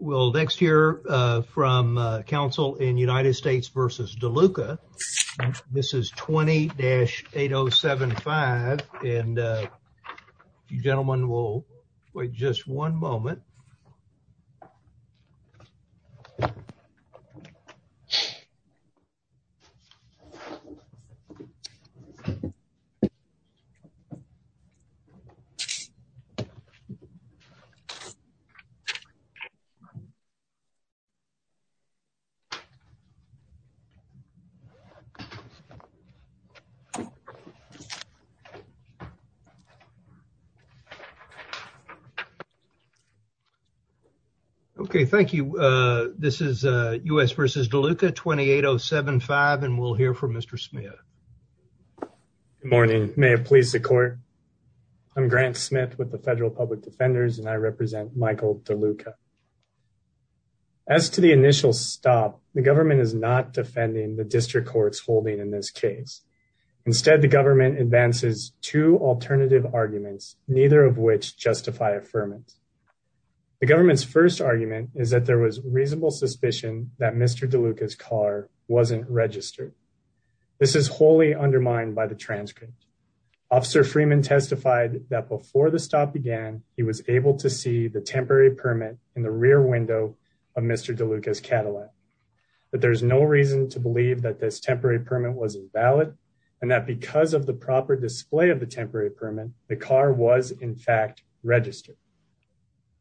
We'll next hear from Council in United States v. Deluca. This is 20-8075. And you gentlemen will wait just one moment. Okay, thank you. This is US v. Deluca 20-8075. And we'll hear from Mr. Smith. Good morning. May it please the court. I'm Grant Smith with the Federal Public Defenders and I represent Michael Deluca. As to the initial stop, the government is not defending the district court's holding in this case. Instead, the government advances two alternative arguments, neither of which justify affirmance. The government's first argument is that there was reasonable suspicion that Mr. Deluca's car wasn't registered. This is wholly undermined by the transcript. Officer Freeman testified that before the stop began, he was able to see the temporary permit in the rear window of Mr. Deluca's Cadillac. But there's no reason to believe that this temporary permit was invalid and that because of the proper display of the temporary permit, the car was in fact registered.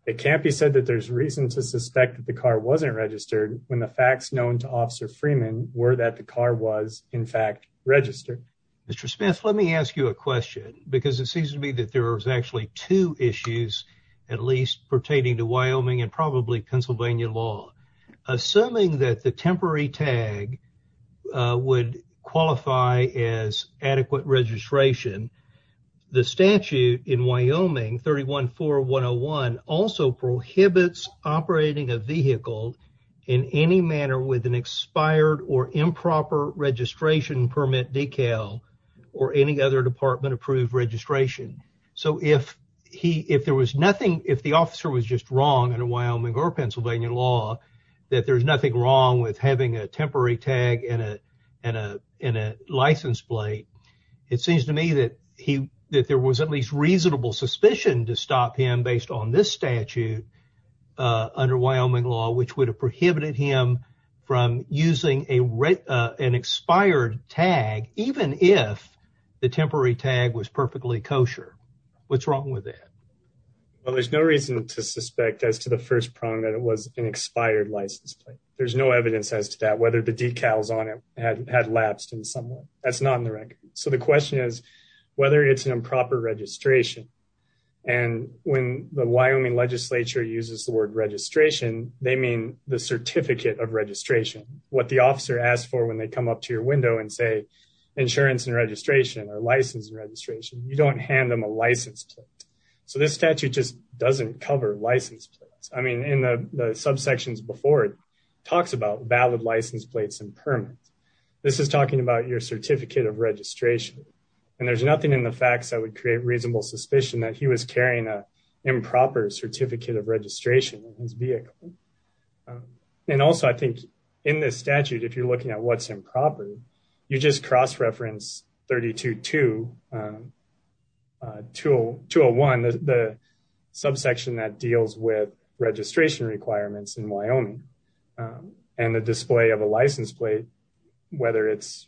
It can't be said that there's reason to suspect that the car wasn't registered when the facts known to Officer Freeman were that the car was in fact registered. Mr. Smith, let me ask you a question because it seems to me that there is actually two issues at least pertaining to Wyoming and probably Pennsylvania law. Assuming that the temporary tag would qualify as adequate registration, the statute in Wyoming 314101 also prohibits operating a vehicle in any manner with an expired or improper registration permit decal. Or any other department approved registration. So if he if there was nothing, if the officer was just wrong in a Wyoming or Pennsylvania law, that there's nothing wrong with having a temporary tag in a in a in a license plate. It seems to me that he that there was at least reasonable suspicion to stop him based on this statute under Wyoming law, which would have prohibited him from using a an expired tag, even if the temporary tag was perfectly kosher. What's wrong with that? Well, there's no reason to suspect as to the first prong that it was an expired license plate. There's no evidence as to that whether the decals on it had lapsed in some way. That's not in the record. So the question is whether it's an improper registration. And when the Wyoming legislature uses the word registration, they mean the certificate of registration, what the officer asked for when they come up to your window and say insurance and registration or license registration, you don't hand them a license. So this statute just doesn't cover license. I mean in the subsections before it talks about valid license plates and permits. This is talking about your certificate of registration. And there's nothing in the facts that would create reasonable suspicion that he was carrying a improper certificate of registration in his vehicle. And also, I think in this statute, if you're looking at what's improper, you just cross reference 32 to 201, the subsection that deals with registration requirements in Wyoming and the display of a license plate, whether it's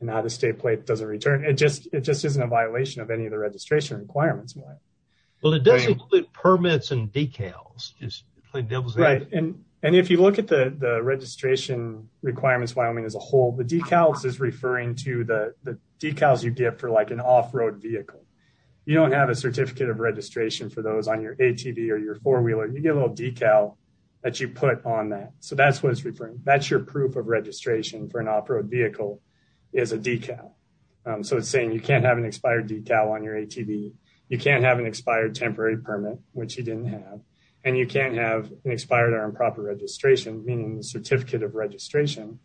an out of state plate doesn't return. It just isn't a violation of any of the registration requirements. Well, it does include permits and decals. And if you look at the registration requirements, Wyoming as a whole, the decals is referring to the decals you get for like an off-road vehicle. You don't have a certificate of registration for those on your ATV or your four-wheeler. You get a little decal that you put on that. So that's what it's referring to. That's your proof of registration for an off-road vehicle is a decal. So it's saying you can't have an expired decal on your ATV. You can't have an expired temporary permit, which he didn't have. And you can't have an expired or improper registration, meaning the certificate of registration.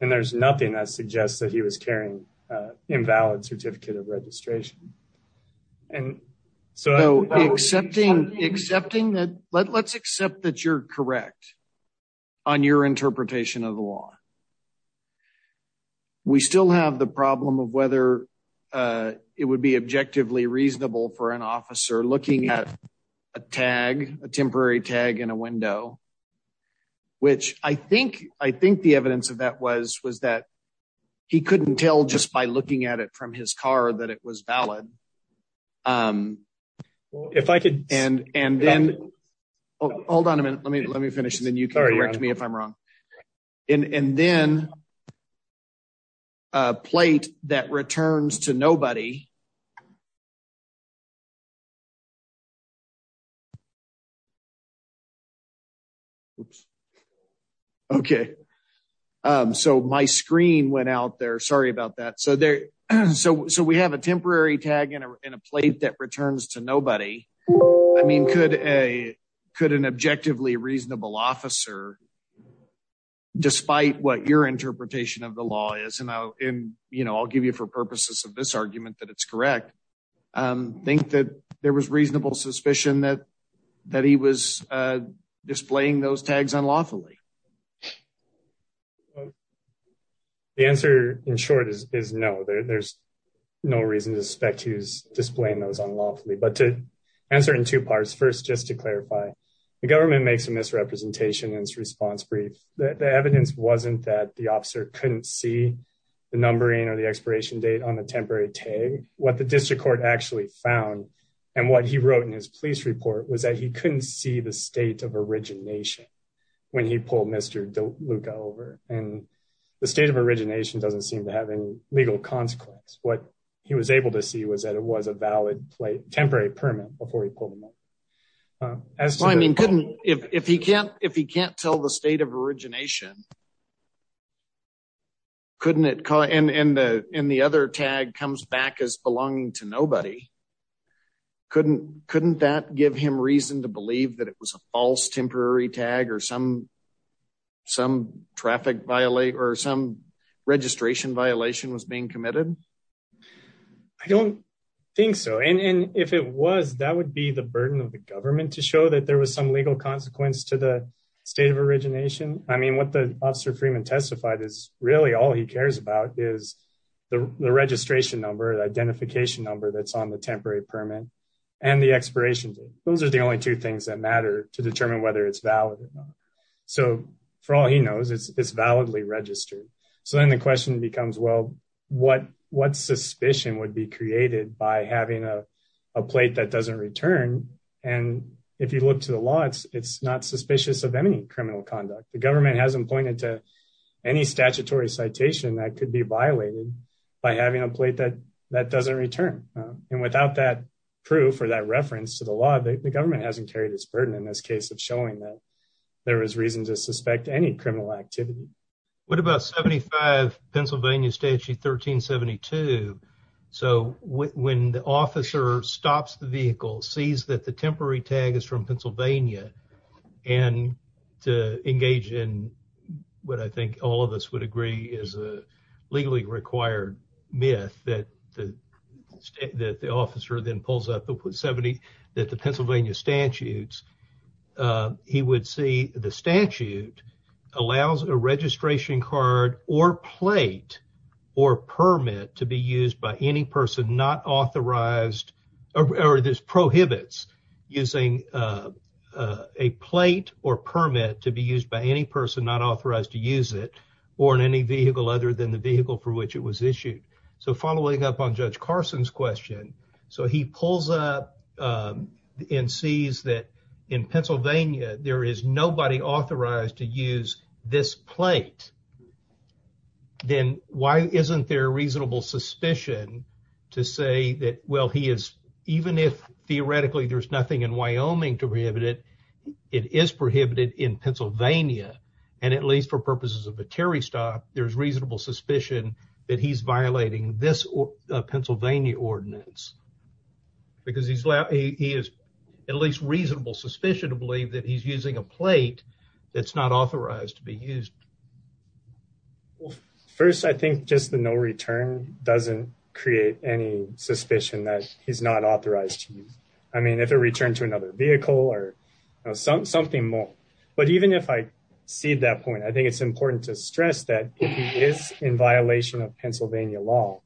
And there's nothing that suggests that he was carrying an invalid certificate of registration. And so accepting that, let's accept that you're correct on your interpretation of the law. We still have the problem of whether it would be objectively reasonable for an officer looking at a tag, a temporary tag in a window. Which I think the evidence of that was that he couldn't tell just by looking at it from his car that it was valid. Hold on a minute. Let me finish and then you can correct me if I'm wrong. And then a plate that returns to nobody. Okay, so my screen went out there. Sorry about that. So we have a temporary tag in a plate that returns to nobody. I mean, could an objectively reasonable officer, despite what your interpretation of the law is, and I'll give you for purposes of this argument that it's correct, think that there was reasonable suspicion that he was displaying those tags unlawfully? The answer, in short, is no. There's no reason to suspect he was displaying those unlawfully. But to answer in two parts. First, just to clarify, the government makes a misrepresentation in its response brief. The evidence wasn't that the officer couldn't see the numbering or the expiration date on the temporary tag. What the district court actually found, and what he wrote in his police report, was that he couldn't see the state of origination when he pulled Mr. Deluca over. And the state of origination doesn't seem to have any legal consequence. What he was able to see was that it was a valid temporary permit before he pulled him over. If he can't tell the state of origination, and the other tag comes back as belonging to nobody, couldn't that give him reason to believe that it was a false temporary tag or some registration violation was being committed? I don't think so. And if it was, that would be the burden of the government to show that there was some legal consequence to the state of origination. I mean, what the officer Freeman testified is really all he cares about is the registration number, the identification number that's on the temporary permit, and the expiration date. Those are the only two things that matter to determine whether it's valid or not. So for all he knows, it's validly registered. So then the question becomes, well, what suspicion would be created by having a plate that doesn't return? And if you look to the law, it's not suspicious of any criminal conduct. The government hasn't pointed to any statutory citation that could be violated by having a plate that doesn't return. And without that proof or that reference to the law, the government hasn't carried this burden in this case of showing that there was reason to suspect any criminal activity. What about 75 Pennsylvania Statute 1372? So when the officer stops the vehicle, sees that the temporary tag is from Pennsylvania, and to engage in what I think all of us would agree is a legally required myth that the state that the officer then pulls up with 70 that the Pennsylvania statutes, he would see the statute allows a registration card or plate or permit to be used by any person not authorized or this prohibits using a plate or permit to be used by any person not authorized to use it or in any vehicle other than the vehicle for which it was issued. So following up on Judge Carson's question, so he pulls up and sees that in Pennsylvania, there is nobody authorized to use this plate. Then why isn't there reasonable suspicion to say that, well, he is, even if theoretically there's nothing in Wyoming to prohibit it, it is prohibited in Pennsylvania. And at least for purposes of a Terry stop, there's reasonable suspicion that he's violating this Pennsylvania ordinance because he is at least reasonable suspicion to believe that he's using a plate that's not authorized to be used. First, I think just the no return doesn't create any suspicion that he's not authorized to use. I mean if it returned to another vehicle or something something more. But even if I see that point I think it's important to stress that is in violation of Pennsylvania law.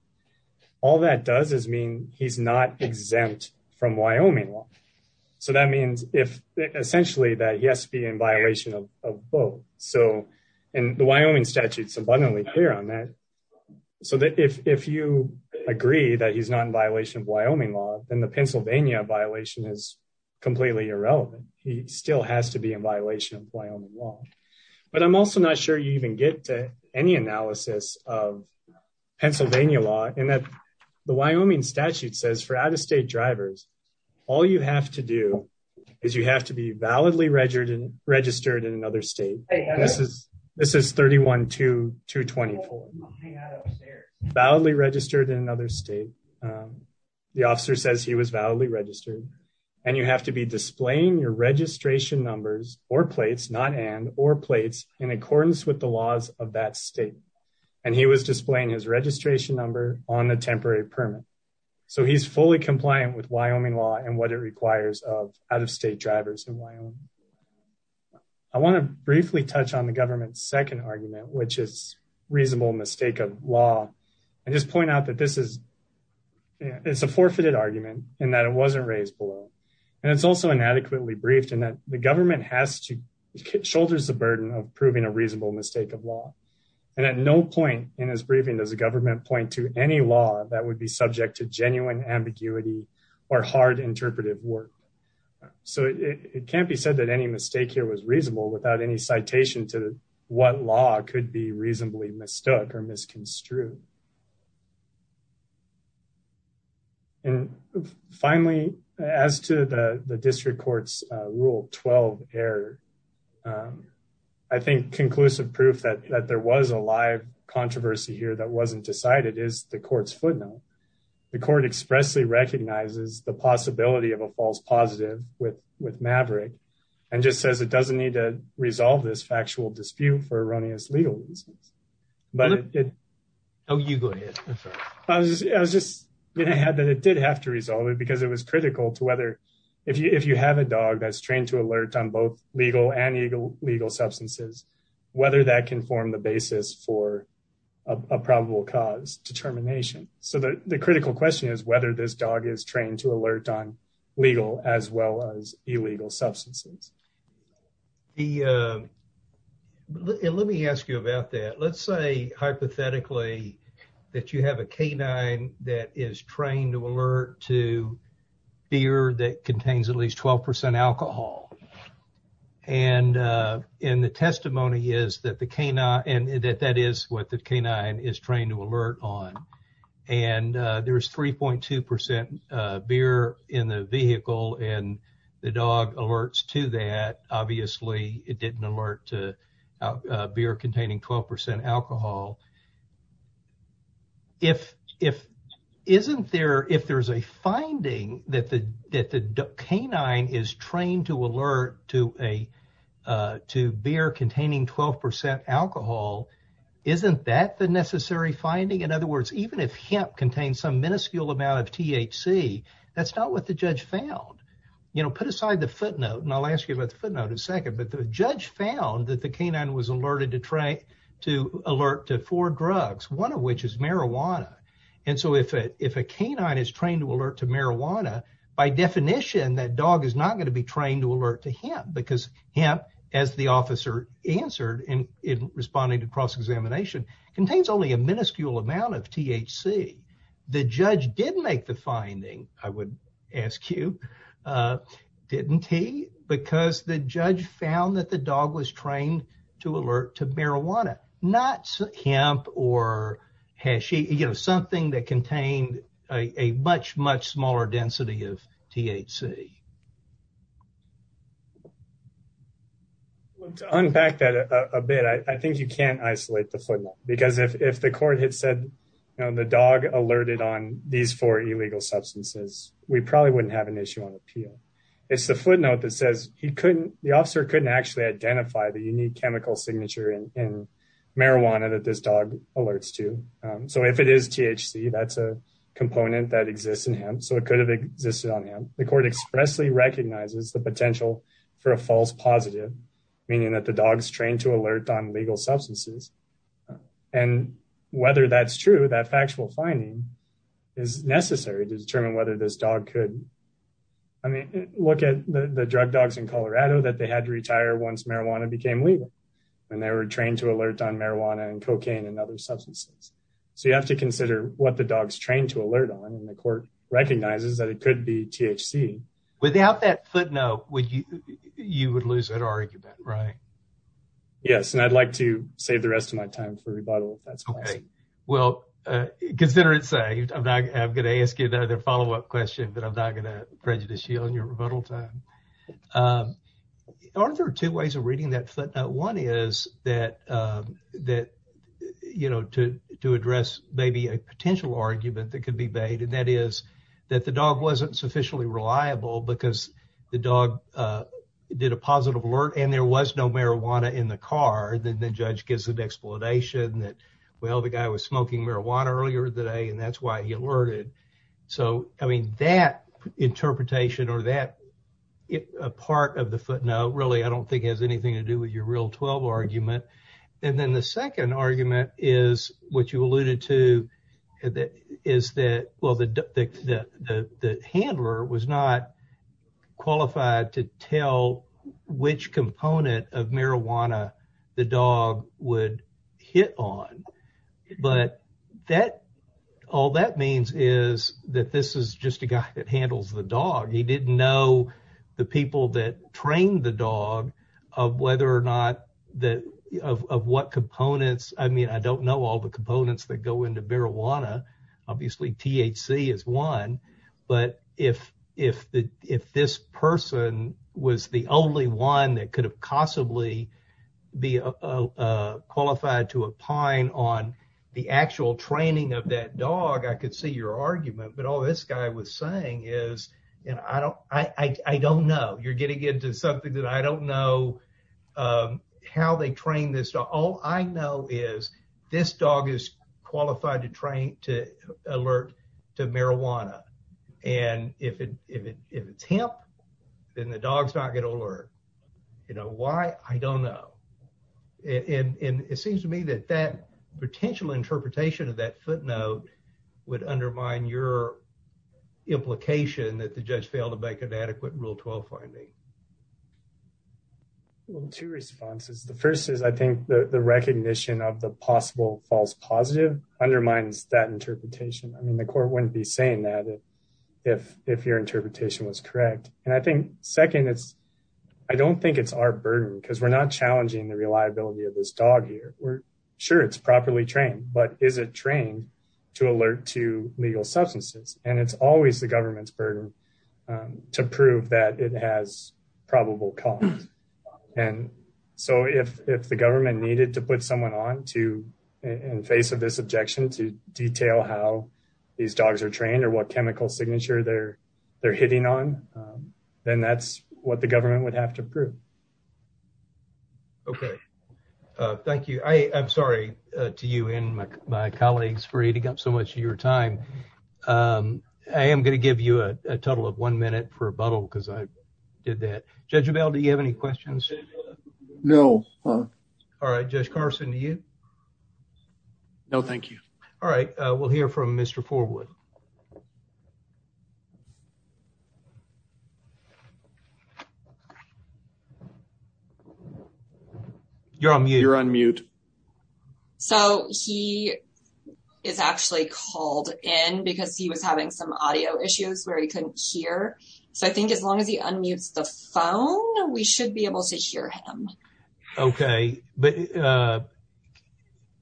All that does is mean he's not exempt from Wyoming law. So that means if essentially that yes be in violation of both. So, and the Wyoming statutes abundantly clear on that. So that if you agree that he's not in violation of Wyoming law, and the Pennsylvania violation is completely irrelevant. He still has to be in violation of Wyoming law, but I'm also not sure you even get to any analysis of Pennsylvania law, and that the Wyoming validly registered in another state. The officer says he was validly registered, and you have to be displaying your registration numbers or plates not and or plates in accordance with the laws of that state. And he was displaying his registration number on the temporary permit. So he's fully compliant with Wyoming law and what it requires of out of state drivers in Wyoming. I want to briefly touch on the government second argument which is reasonable mistake of law, and just point out that this is, it's a forfeited argument, and that it wasn't raised below. And it's also inadequately briefed and that the government has to shoulders the burden of proving a reasonable mistake of law. And at no point in his briefing does the government point to any law that would be subject to genuine ambiguity or hard interpretive work. So it can't be said that any mistake here was reasonable without any citation to what law could be reasonably mistook or misconstrued. And finally, as to the district courts rule 12 error. I think conclusive proof that there was a live controversy here that wasn't decided is the court's footnote. The court expressly recognizes the possibility of a false positive with with Maverick, and just says it doesn't need to resolve this factual dispute for erroneous legal reasons. Oh, you go ahead. I was just going to have that it did have to resolve it because it was critical to whether if you if you have a dog that's trained to alert on both legal and legal legal substances, whether that can form the basis for a probable cause determination. So the critical question is whether this dog is trained to alert on legal as well as illegal substances. The let me ask you about that. Let's say hypothetically that you have a canine that is trained to alert to beer that contains at least 12 percent alcohol. And in the testimony is that the canine and that that is what the canine is trained to alert on. And there is three point two percent beer in the vehicle and the dog alerts to that. Obviously, it didn't alert to beer containing 12 percent alcohol. If if isn't there if there's a finding that the that the canine is trained to alert to a to beer containing 12 percent alcohol, isn't that the necessary finding? In other words, even if hemp contains some minuscule amount of THC, that's not what the judge found. You know, put aside the footnote and I'll ask you about the footnote in a second. But the judge found that the canine was alerted to try to alert to four drugs, one of which is marijuana. And so if if a canine is trained to alert to marijuana, by definition, that dog is not going to be trained to alert to hemp because hemp, as the officer answered in responding to cross examination, contains only a minuscule amount of THC. The judge did make the finding, I would ask you, didn't he? Because the judge found that the dog was trained to alert to marijuana, not hemp or hash, you know, something that contained a much, much smaller density of THC. To unpack that a bit, I think you can't isolate the footnote, because if the court had said the dog alerted on these four illegal substances, we probably wouldn't have an issue on appeal. It's the footnote that says he couldn't the officer couldn't actually identify the unique chemical signature in marijuana that this dog alerts to. So if it is THC, that's a component that exists in hemp, so it could have existed on hemp. The court expressly recognizes the potential for a false positive, meaning that the dog's trained to alert on legal substances. And whether that's true, that factual finding is necessary to determine whether this dog could look at the drug dogs in Colorado that they had to retire once marijuana became legal. And they were trained to alert on marijuana and cocaine and other substances. So you have to consider what the dog's trained to alert on, and the court recognizes that it could be THC. Without that footnote, you would lose that argument, right? Yes, and I'd like to save the rest of my time for rebuttal if that's possible. Well, consider it saved. I'm going to ask you another follow-up question, but I'm not going to prejudice you on your rebuttal time. Aren't there two ways of reading that footnote? One is to address maybe a potential argument that could be made, and that is that the dog wasn't sufficiently reliable because the dog did a positive alert and there was no marijuana in the car. Then the judge gives an explanation that, well, the guy was smoking marijuana earlier today, and that's why he alerted. So, I mean, that interpretation or that part of the footnote really I don't think has anything to do with your Real 12 argument. And then the second argument is what you alluded to, is that, well, the handler was not qualified to tell which component of marijuana the dog would hit on. But all that means is that this is just a guy that handles the dog. He didn't know the people that trained the dog of whether or not – of what components – I mean, I don't know all the components that go into marijuana. Obviously, THC is one, but if this person was the only one that could have possibly be qualified to opine on the actual training of that dog, I could see your argument. But all this guy was saying is, I don't know. You're getting into something that I don't know how they trained this dog. All I know is this dog is qualified to alert to marijuana. And if it's hemp, then the dog's not going to alert. You know why? I don't know. And it seems to me that that potential interpretation of that footnote would undermine your implication that the judge failed to make an adequate Rule 12 finding. Two responses. The first is, I think, the recognition of the possible false positive undermines that interpretation. I mean, the court wouldn't be saying that if your interpretation was correct. And I think, second, I don't think it's our burden because we're not challenging the reliability of this dog here. Sure, it's properly trained, but is it trained to alert to legal substances? And it's always the government's burden to prove that it has probable cause. And so if the government needed to put someone on to in face of this objection to detail how these dogs are trained or what chemical signature they're they're hitting on, then that's what the government would have to prove. OK, thank you. I'm sorry to you and my colleagues for eating up so much of your time. I am going to give you a total of one minute for a bottle because I did that. Judge Bell, do you have any questions? No. All right. Judge Carson, do you know? Thank you. All right. We'll hear from Mr. Forward. You're on mute. You're on mute. So he is actually called in because he was having some audio issues where he couldn't hear. So I think as long as he unmutes the phone, we should be able to hear him. OK, but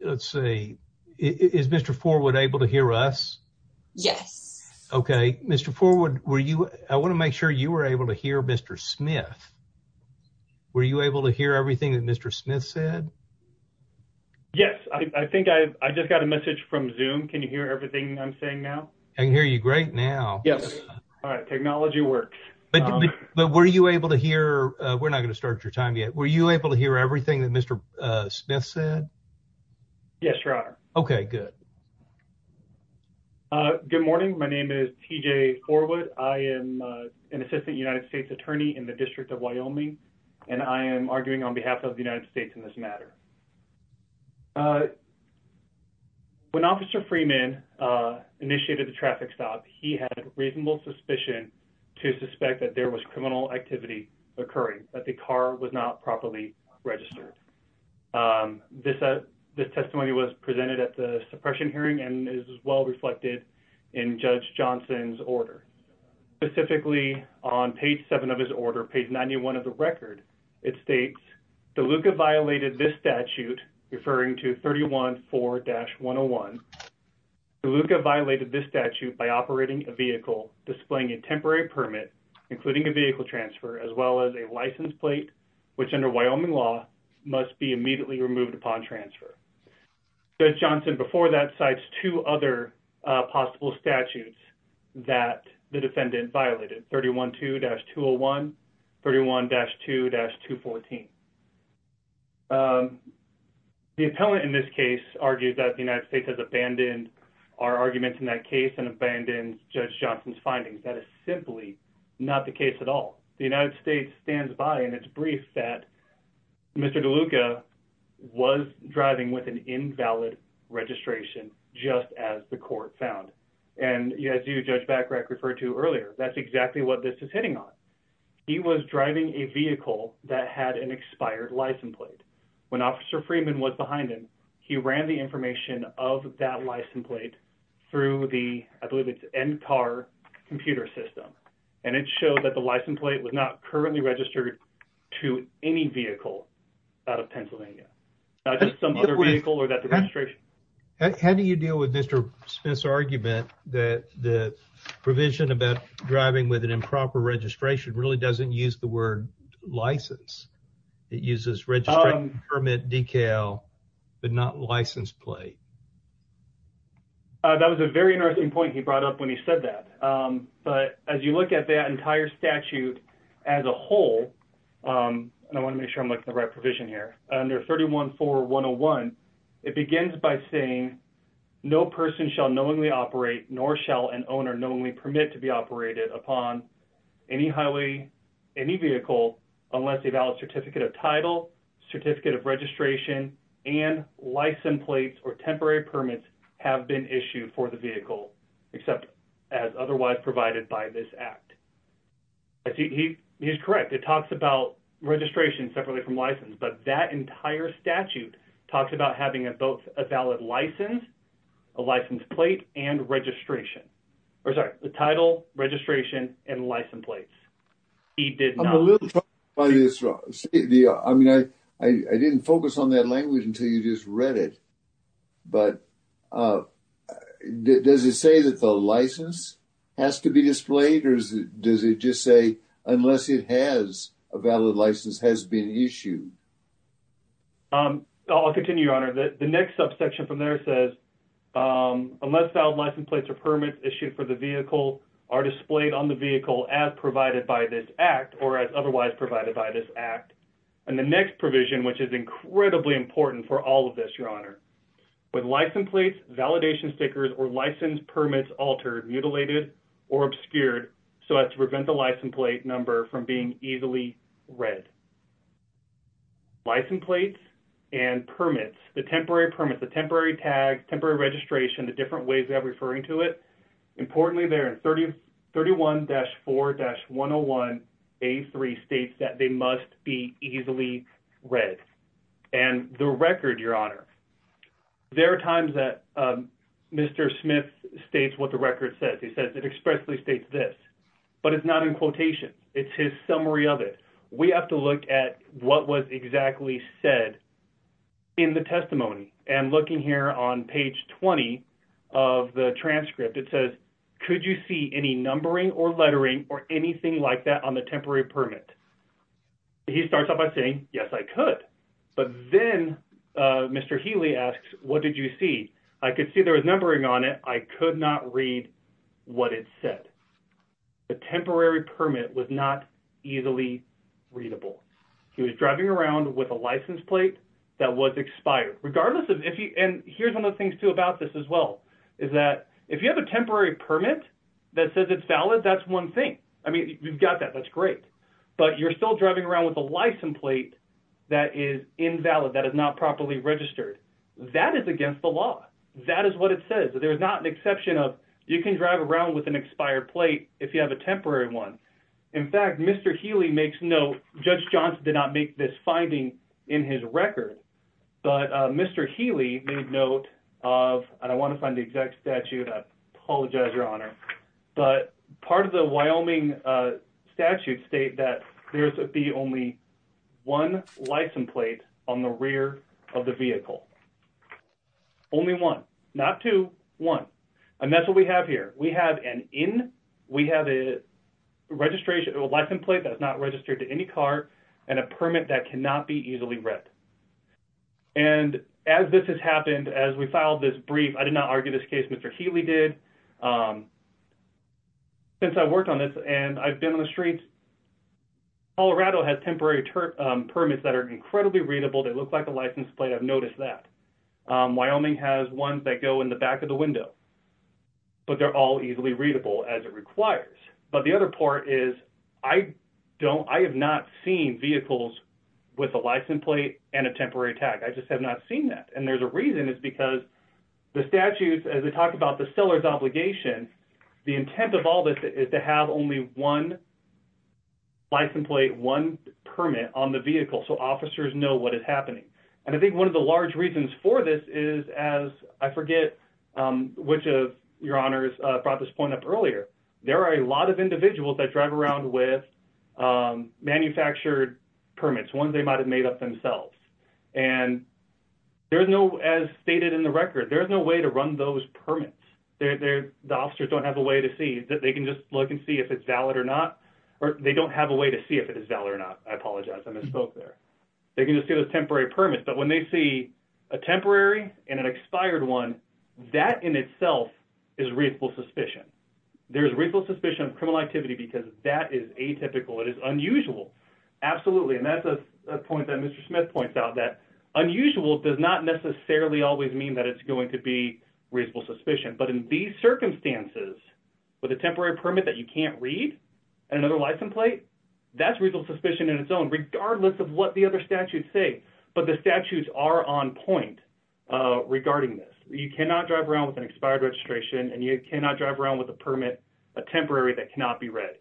let's see. Is Mr. Forward able to hear us? Yes. OK, Mr. Forward, were you I want to make sure you were able to hear Mr. Smith. Were you able to hear everything that Mr. Smith said? Yes, I think I just got a message from Zoom. Can you hear everything I'm saying now? I can hear you great now. Yes. All right. Technology works. But were you able to hear? We're not going to start your time yet. Were you able to hear everything that Mr. Smith said? Yes. OK, good. Good morning. My name is TJ Forward. I am an assistant United States attorney in the district of Wyoming, and I am arguing on behalf of the United States in this matter. When Officer Freeman initiated the traffic stop, he had reasonable suspicion to suspect that there was criminal activity occurring, that the car was not properly registered. This testimony was presented at the suppression hearing and is well reflected in Judge Johnson's order. Specifically on page seven of his order, page ninety one of the record, it states the Luca violated this statute referring to thirty one four dash one oh one. Luca violated this statute by operating a vehicle displaying a temporary permit, including a vehicle transfer, as well as a license plate, which under Wyoming law must be immediately removed upon transfer. Judge Johnson before that cites two other possible statutes that the defendant violated. Thirty one two dash two oh one thirty one dash two dash two fourteen. The appellant in this case argues that the United States has abandoned our arguments in that case and abandoned Judge Johnson's findings. That is simply not the case at all. The United States stands by in its brief that Mr. Luca was driving with an invalid registration just as the court found. And as you, Judge Bacarach, referred to earlier, that's exactly what this is hitting on. He was driving a vehicle that had an expired license plate. When Officer Freeman was behind him, he ran the information of that license plate through the end car computer system. And it showed that the license plate was not currently registered to any vehicle out of Pennsylvania. Not just some other vehicle or that registration. How do you deal with Mr. Smith's argument that the provision about driving with an improper registration really doesn't use the word license? It uses registration permit decal, but not license plate. That was a very interesting point he brought up when he said that. But as you look at that entire statute as a whole, and I want to make sure I'm looking at the right provision here. Under 314101, it begins by saying, no person shall knowingly operate nor shall an owner knowingly permit to be operated upon any vehicle unless a valid certificate of title, registration, and license plates or temporary permits have been issued for the vehicle, except as otherwise provided by this act. He's correct. It talks about registration separately from license. But that entire statute talks about having both a valid license, a license plate, and registration. Or sorry, the title, registration, and license plates. I'm a little troubled by this. I mean, I didn't focus on that language until you just read it. But does it say that the license has to be displayed, or does it just say unless it has a valid license has been issued? I'll continue, Your Honor. The next subsection from there says unless valid license plates or permits issued for the vehicle are displayed on the vehicle as provided by this act or as otherwise provided by this act. And the next provision, which is incredibly important for all of this, Your Honor. With license plates, validation stickers, or license permits altered, mutilated, or obscured so as to prevent the license plate number from being easily read. License plates and permits, the temporary permits, the temporary tags, temporary registration, the different ways that I'm referring to it. Importantly there in 31-4-101A3 states that they must be easily read. And the record, Your Honor. There are times that Mr. Smith states what the record says. He says it expressly states this. But it's not in quotation. It's his summary of it. We have to look at what was exactly said in the testimony. And looking here on page 20 of the transcript, it says, could you see any numbering or lettering or anything like that on the temporary permit? He starts off by saying, yes, I could. But then Mr. Healy asks, what did you see? I could see there was numbering on it. I could not read what it said. The temporary permit was not easily readable. He was driving around with a license plate that was expired. And here's one of the things, too, about this as well is that if you have a temporary permit that says it's valid, that's one thing. I mean, you've got that. That's great. But you're still driving around with a license plate that is invalid, that is not properly registered. That is against the law. That is what it says. There is not an exception of you can drive around with an expired plate if you have a temporary one. In fact, Mr. Healy makes note, Judge Johnson did not make this finding in his record. But Mr. Healy made note of, and I want to find the exact statute. I apologize, Your Honor. But part of the Wyoming statute states that there should be only one license plate on the rear of the vehicle. Only one. Not two, one. And that's what we have here. We have an in, we have a license plate that is not registered to any car, and a permit that cannot be easily read. And as this has happened, as we filed this brief, I did not argue this case. Mr. Healy did. Since I've worked on this and I've been on the streets, Colorado has temporary permits that are incredibly readable. They look like a license plate. I've noticed that. Wyoming has ones that go in the back of the window. But they're all easily readable as it requires. But the other part is I have not seen vehicles with a license plate and a temporary tag. I just have not seen that. And there's a reason. It's because the statute, as we talked about the seller's obligation, the intent of all this is to have only one license plate, one permit on the vehicle so officers know what is happening. And I think one of the large reasons for this is, as I forget which of your honors brought this point up earlier, there are a lot of individuals that drive around with manufactured permits, ones they might have made up themselves. And there's no, as stated in the record, there's no way to run those permits. The officers don't have a way to see. They can just look and see if it's valid or not. Or they don't have a way to see if it is valid or not. I apologize. I misspoke there. They can just see those temporary permits. But when they see a temporary and an expired one, that in itself is reasonable suspicion. There is reasonable suspicion of criminal activity because that is atypical. It is unusual. Absolutely. And that's a point that Mr. Smith points out, that unusual does not necessarily always mean that it's going to be reasonable suspicion. But in these circumstances, with a temporary permit that you can't read and another license plate, that's reasonable suspicion in its own, regardless of what the other statutes say. But the statutes are on point regarding this. You cannot drive around with an expired registration and you cannot drive around with a permit, a temporary, that cannot be read.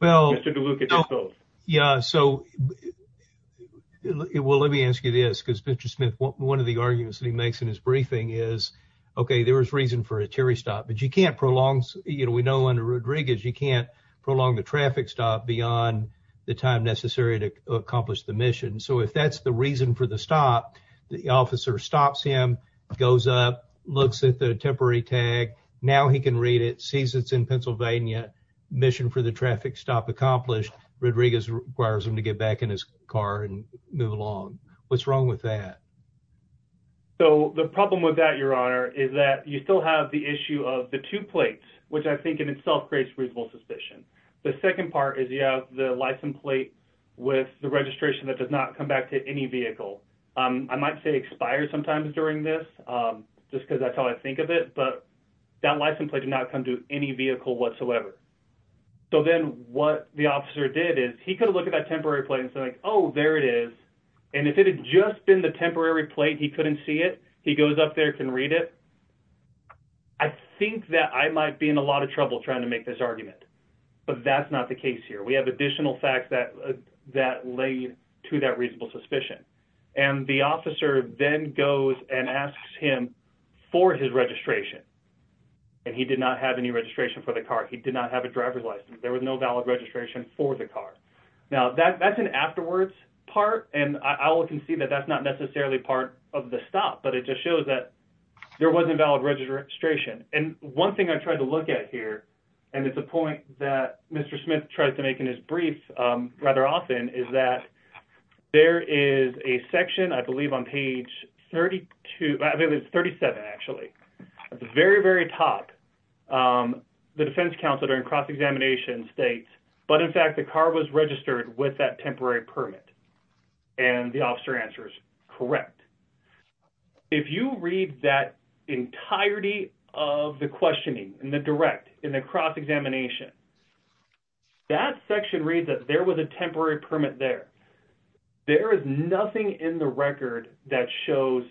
Mr. DeLuca, just both. Yeah. So, well, let me ask you this, because Mr. Smith, one of the arguments that he makes in his briefing is, okay, there is reason for a Terry stop. But you can't prolong, you know, we know under Rodriguez, you can't prolong the traffic stop beyond the time necessary to accomplish the mission. So if that's the reason for the stop, the officer stops him, goes up, looks at the temporary tag. Now he can read it, sees it's in Pennsylvania, mission for the traffic stop accomplished. Rodriguez requires him to get back in his car and move along. What's wrong with that? So the problem with that, Your Honor, is that you still have the issue of the two plates, which I think in itself creates reasonable suspicion. The second part is you have the license plate with the registration that does not come back to any vehicle. I might say expired sometimes during this, just because that's how I think of it. But that license plate did not come to any vehicle whatsoever. So then what the officer did is he could have looked at that temporary plate and said, oh, there it is. And if it had just been the temporary plate, he couldn't see it. He goes up there, can read it. I think that I might be in a lot of trouble trying to make this argument. But that's not the case here. We have additional facts that lay to that reasonable suspicion. And the officer then goes and asks him for his registration. And he did not have any registration for the car. He did not have a driver's license. There was no valid registration for the car. Now, that's an afterwards part, and I will concede that that's not necessarily part of the stop. But it just shows that there wasn't valid registration. And one thing I tried to look at here, and it's a point that Mr. Smith tries to make in his brief rather often, is that there is a section, I believe, on page 37, actually, at the very, very top. The defense counselor in cross-examination states, but in fact, the car was registered with that temporary permit. And the officer answers, correct. If you read that entirety of the questioning in the direct, in the cross-examination, that section reads that there was a temporary permit there. There is nothing in the record that shows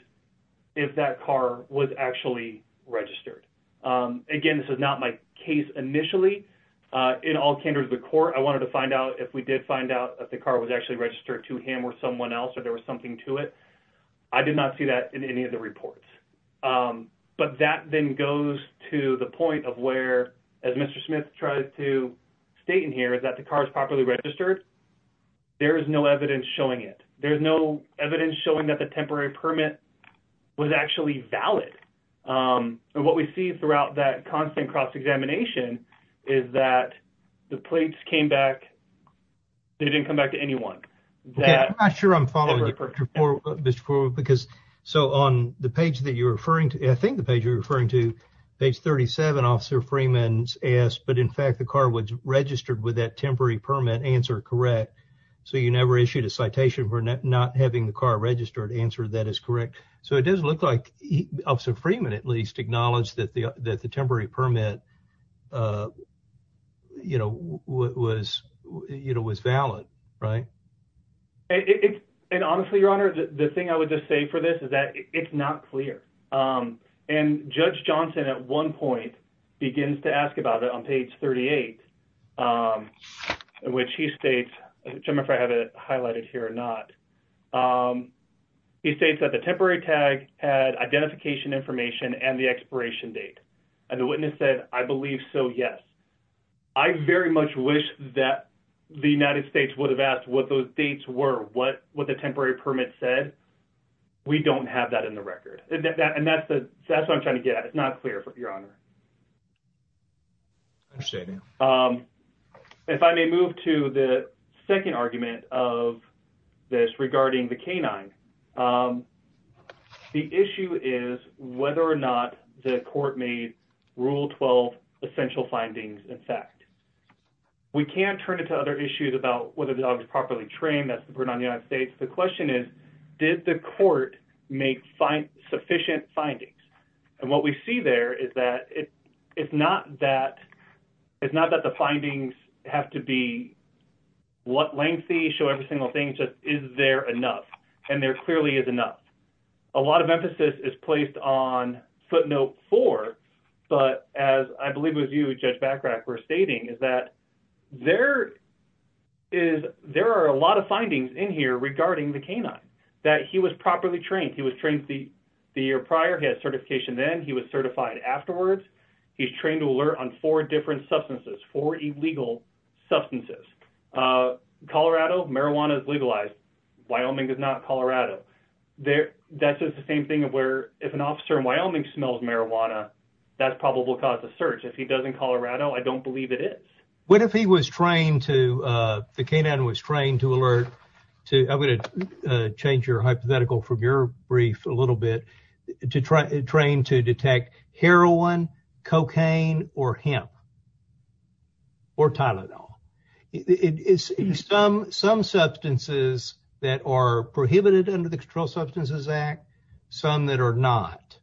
if that car was actually registered. Again, this is not my case initially. In all candor to the court, I wanted to find out if we did find out if the car was actually registered to him or someone else or there was something to it. I did not see that in any of the reports. But that then goes to the point of where, as Mr. Smith tried to state in here, is that the car is properly registered. There is no evidence showing it. There is no evidence showing that the temporary permit was actually valid. And what we see throughout that constant cross-examination is that the plates came back. They didn't come back to anyone. I'm not sure I'm following you, Mr. Foreman, because on the page that you're referring to, I think the page you're referring to, page 37, Officer Freeman's asked, but in fact the car was registered with that temporary permit. Answer, correct. So you never issued a citation for not having the car registered. Answer, that is correct. So it does look like Officer Freeman at least acknowledged that the temporary permit was valid. And honestly, Your Honor, the thing I would just say for this is that it's not clear. And Judge Johnson at one point begins to ask about it on page 38, which he states, I don't know if I have it highlighted here or not. He states that the temporary tag had identification information and the expiration date. And the witness said, I believe so, yes. I very much wish that the United States would have asked what those dates were, what the temporary permit said. We don't have that in the record. And that's what I'm trying to get at. It's not clear, Your Honor. If I may move to the second argument of this regarding the canine, the issue is whether or not the court made Rule 12 essential findings in fact. We can't turn it to other issues about whether the dog is properly trained. That's the burden on the United States. The question is, did the court make sufficient findings? And what we see there is that it's not that the findings have to be what lengthy, show every single thing. It's just, is there enough? And there clearly is enough. A lot of emphasis is placed on footnote four. But as I believe it was you, Judge Bachrach, were stating, is that there are a lot of findings in here regarding the canine, that he was properly trained. He was trained the year prior. He had certification then. He was certified afterwards. He's trained to alert on four different substances, four illegal substances. Colorado, marijuana is legalized. Wyoming is not Colorado. That's just the same thing of where if an officer in Wyoming smells marijuana, that's probably what caused the search. If he does in Colorado, I don't believe it is. What if he was trained to, the canine was trained to alert to, I'm going to change your hypothetical from your brief a little bit, trained to detect heroin, cocaine, or hemp, or Tylenol. Some substances that are prohibited under the Controlled Substances Act, some that are not.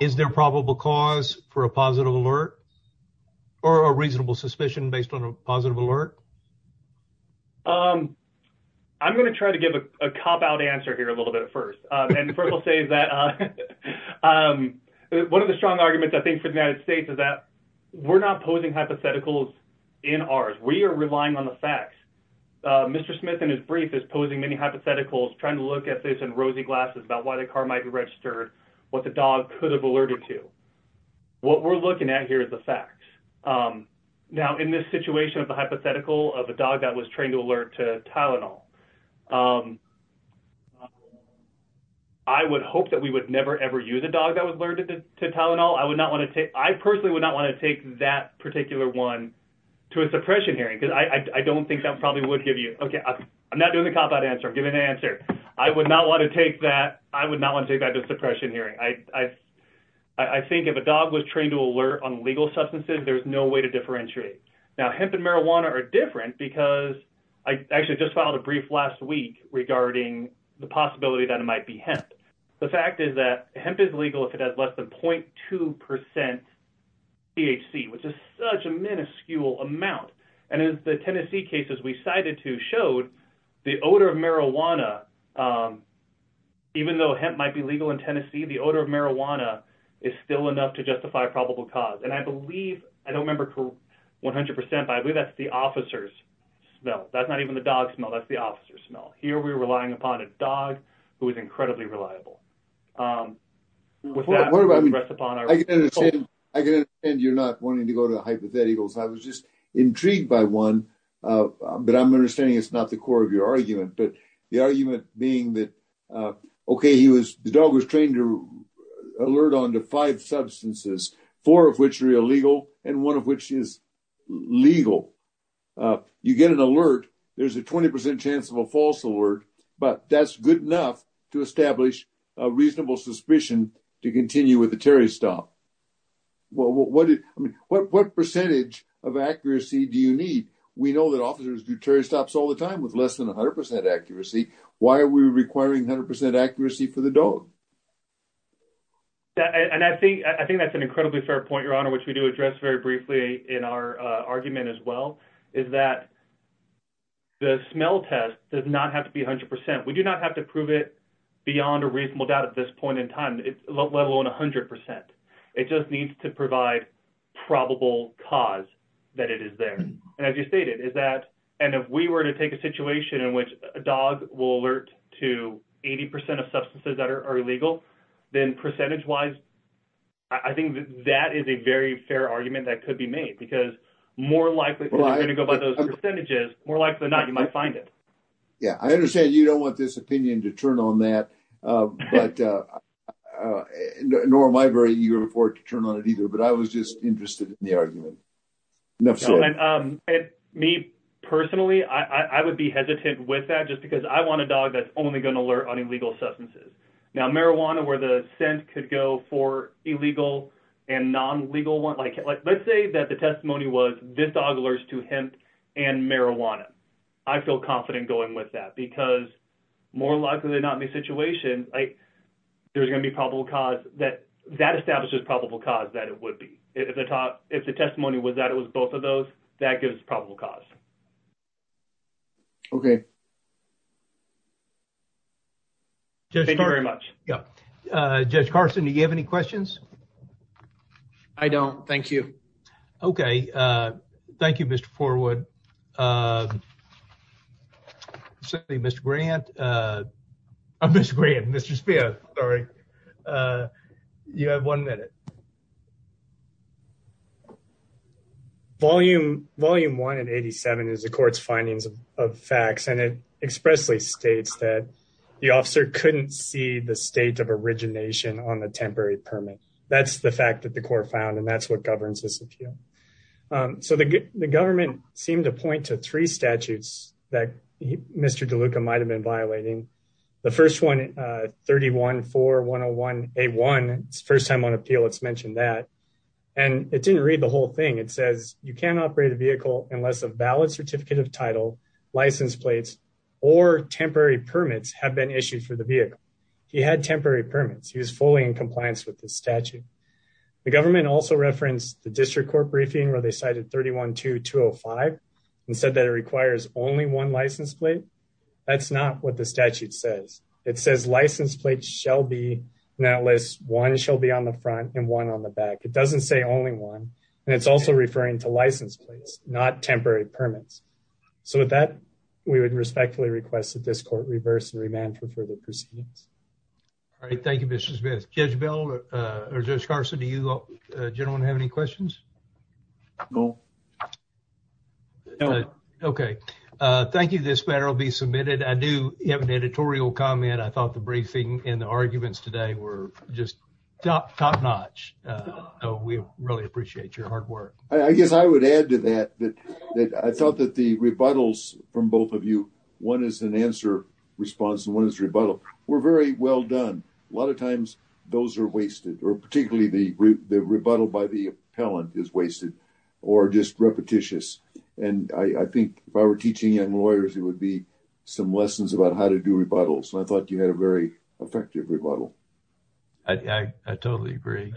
Is there probable cause for a positive alert or a reasonable suspicion based on a positive alert? I'm going to try to give a cop-out answer here a little bit at first. First, I'll say that one of the strong arguments, I think, for the United States is that we're not posing hypotheticals in ours. We are relying on the facts. Mr. Smith, in his brief, is posing many hypotheticals, trying to look at this in rosy glasses about why the car might be registered, what the dog could have alerted to. What we're looking at here is the facts. Now, in this situation of the hypothetical of a dog that was trained to alert to Tylenol, I would hope that we would never, ever use a dog that was alerted to Tylenol. I personally would not want to take that particular one to a suppression hearing because I don't think that probably would give you – okay, I'm not doing the cop-out answer. I'm giving an answer. I would not want to take that to a suppression hearing. I think if a dog was trained to alert on legal substances, there's no way to differentiate. Now, hemp and marijuana are different because I actually just filed a brief last week regarding the possibility that it might be hemp. The fact is that hemp is legal if it has less than 0.2% THC, which is such a minuscule amount. And the Tennessee cases we cited to showed the odor of marijuana, even though hemp might be legal in Tennessee, the odor of marijuana is still enough to justify a probable cause. And I believe – I don't remember 100%, but I believe that's the officer's smell. That's not even the dog's smell. That's the officer's smell. Here we're relying upon a dog who is incredibly reliable. With that, we'll address upon our – I can understand you're not wanting to go to the hypotheticals. I was just intrigued by one, but I'm understanding it's not the core of your argument. But the argument being that, okay, the dog was trained to alert onto five substances, four of which are illegal and one of which is legal. You get an alert. There's a 20% chance of a false alert, but that's good enough to establish a reasonable suspicion to continue with the Terry Stop. What percentage of accuracy do you need? We know that officers do Terry Stops all the time with less than 100% accuracy. Why are we requiring 100% accuracy for the dog? I think that's an incredibly fair point, Your Honor, which we do address very briefly in our argument as well, is that the smell test does not have to be 100%. We do not have to prove it beyond a reasonable doubt at this point in time, let alone 100%. It just needs to provide probable cause that it is there. And as you stated, is that – if we were to take a situation in which a dog will alert to 80% of substances that are illegal, then percentage-wise, I think that is a very fair argument that could be made, because more likely than not, you might find it. Yeah, I understand you don't want this opinion to turn on that, nor am I very eager for it to turn on it either, but I was just interested in the argument. Me personally, I would be hesitant with that just because I want a dog that's only going to alert on illegal substances. Now, marijuana where the scent could go for illegal and non-legal ones, like let's say that the testimony was this dog alerts to hemp and marijuana. I feel confident going with that because more likely than not in this situation, there's going to be probable cause that – that establishes probable cause that it would be. If the testimony was that it was both of those, that gives probable cause. Okay. Thank you very much. Yeah. Judge Carson, do you have any questions? I don't. Thank you. Okay. Thank you, Mr. Forwood. I'm sorry, Mr. Grant. I'm Mr. Grant, Mr. Speer. Sorry. You have one minute. Volume 1 in 87 is the court's findings of facts, and it expressly states that the officer couldn't see the state of origination on the temporary permit. That's the fact that the court found, and that's what governs this appeal. So the government seemed to point to three statutes that Mr. DeLuca might have been violating. The first one, 314101A1, first time on appeal it's mentioned that. And it didn't read the whole thing. It says you can't operate a vehicle unless a valid certificate of title, license plates, or temporary permits have been issued for the vehicle. He had temporary permits. He was fully in compliance with the statute. The government also referenced the district court briefing where they cited 312205 and said that it requires only one license plate. That's not what the statute says. It says license plates shall be in that list. One shall be on the front and one on the back. It doesn't say only one. And it's also referring to license plates, not temporary permits. So with that, we would respectfully request that this court reverse and remand for further proceedings. All right. Thank you, Mr. Smith. Judge Bell, or Judge Carson, do you gentlemen have any questions? No. No. Okay. Thank you. This matter will be submitted. I do have an editorial comment. I thought the briefing and the arguments today were just top notch. So we really appreciate your hard work. I guess I would add to that that I thought that the rebuttals from both of you, one is an answer response and one is a rebuttal, were very well done. A lot of times those are wasted or particularly the rebuttal by the appellant is wasted or just repetitious. And I think if I were teaching young lawyers, it would be some lessons about how to do rebuttals. And I thought you had a very effective rebuttal. I totally agree.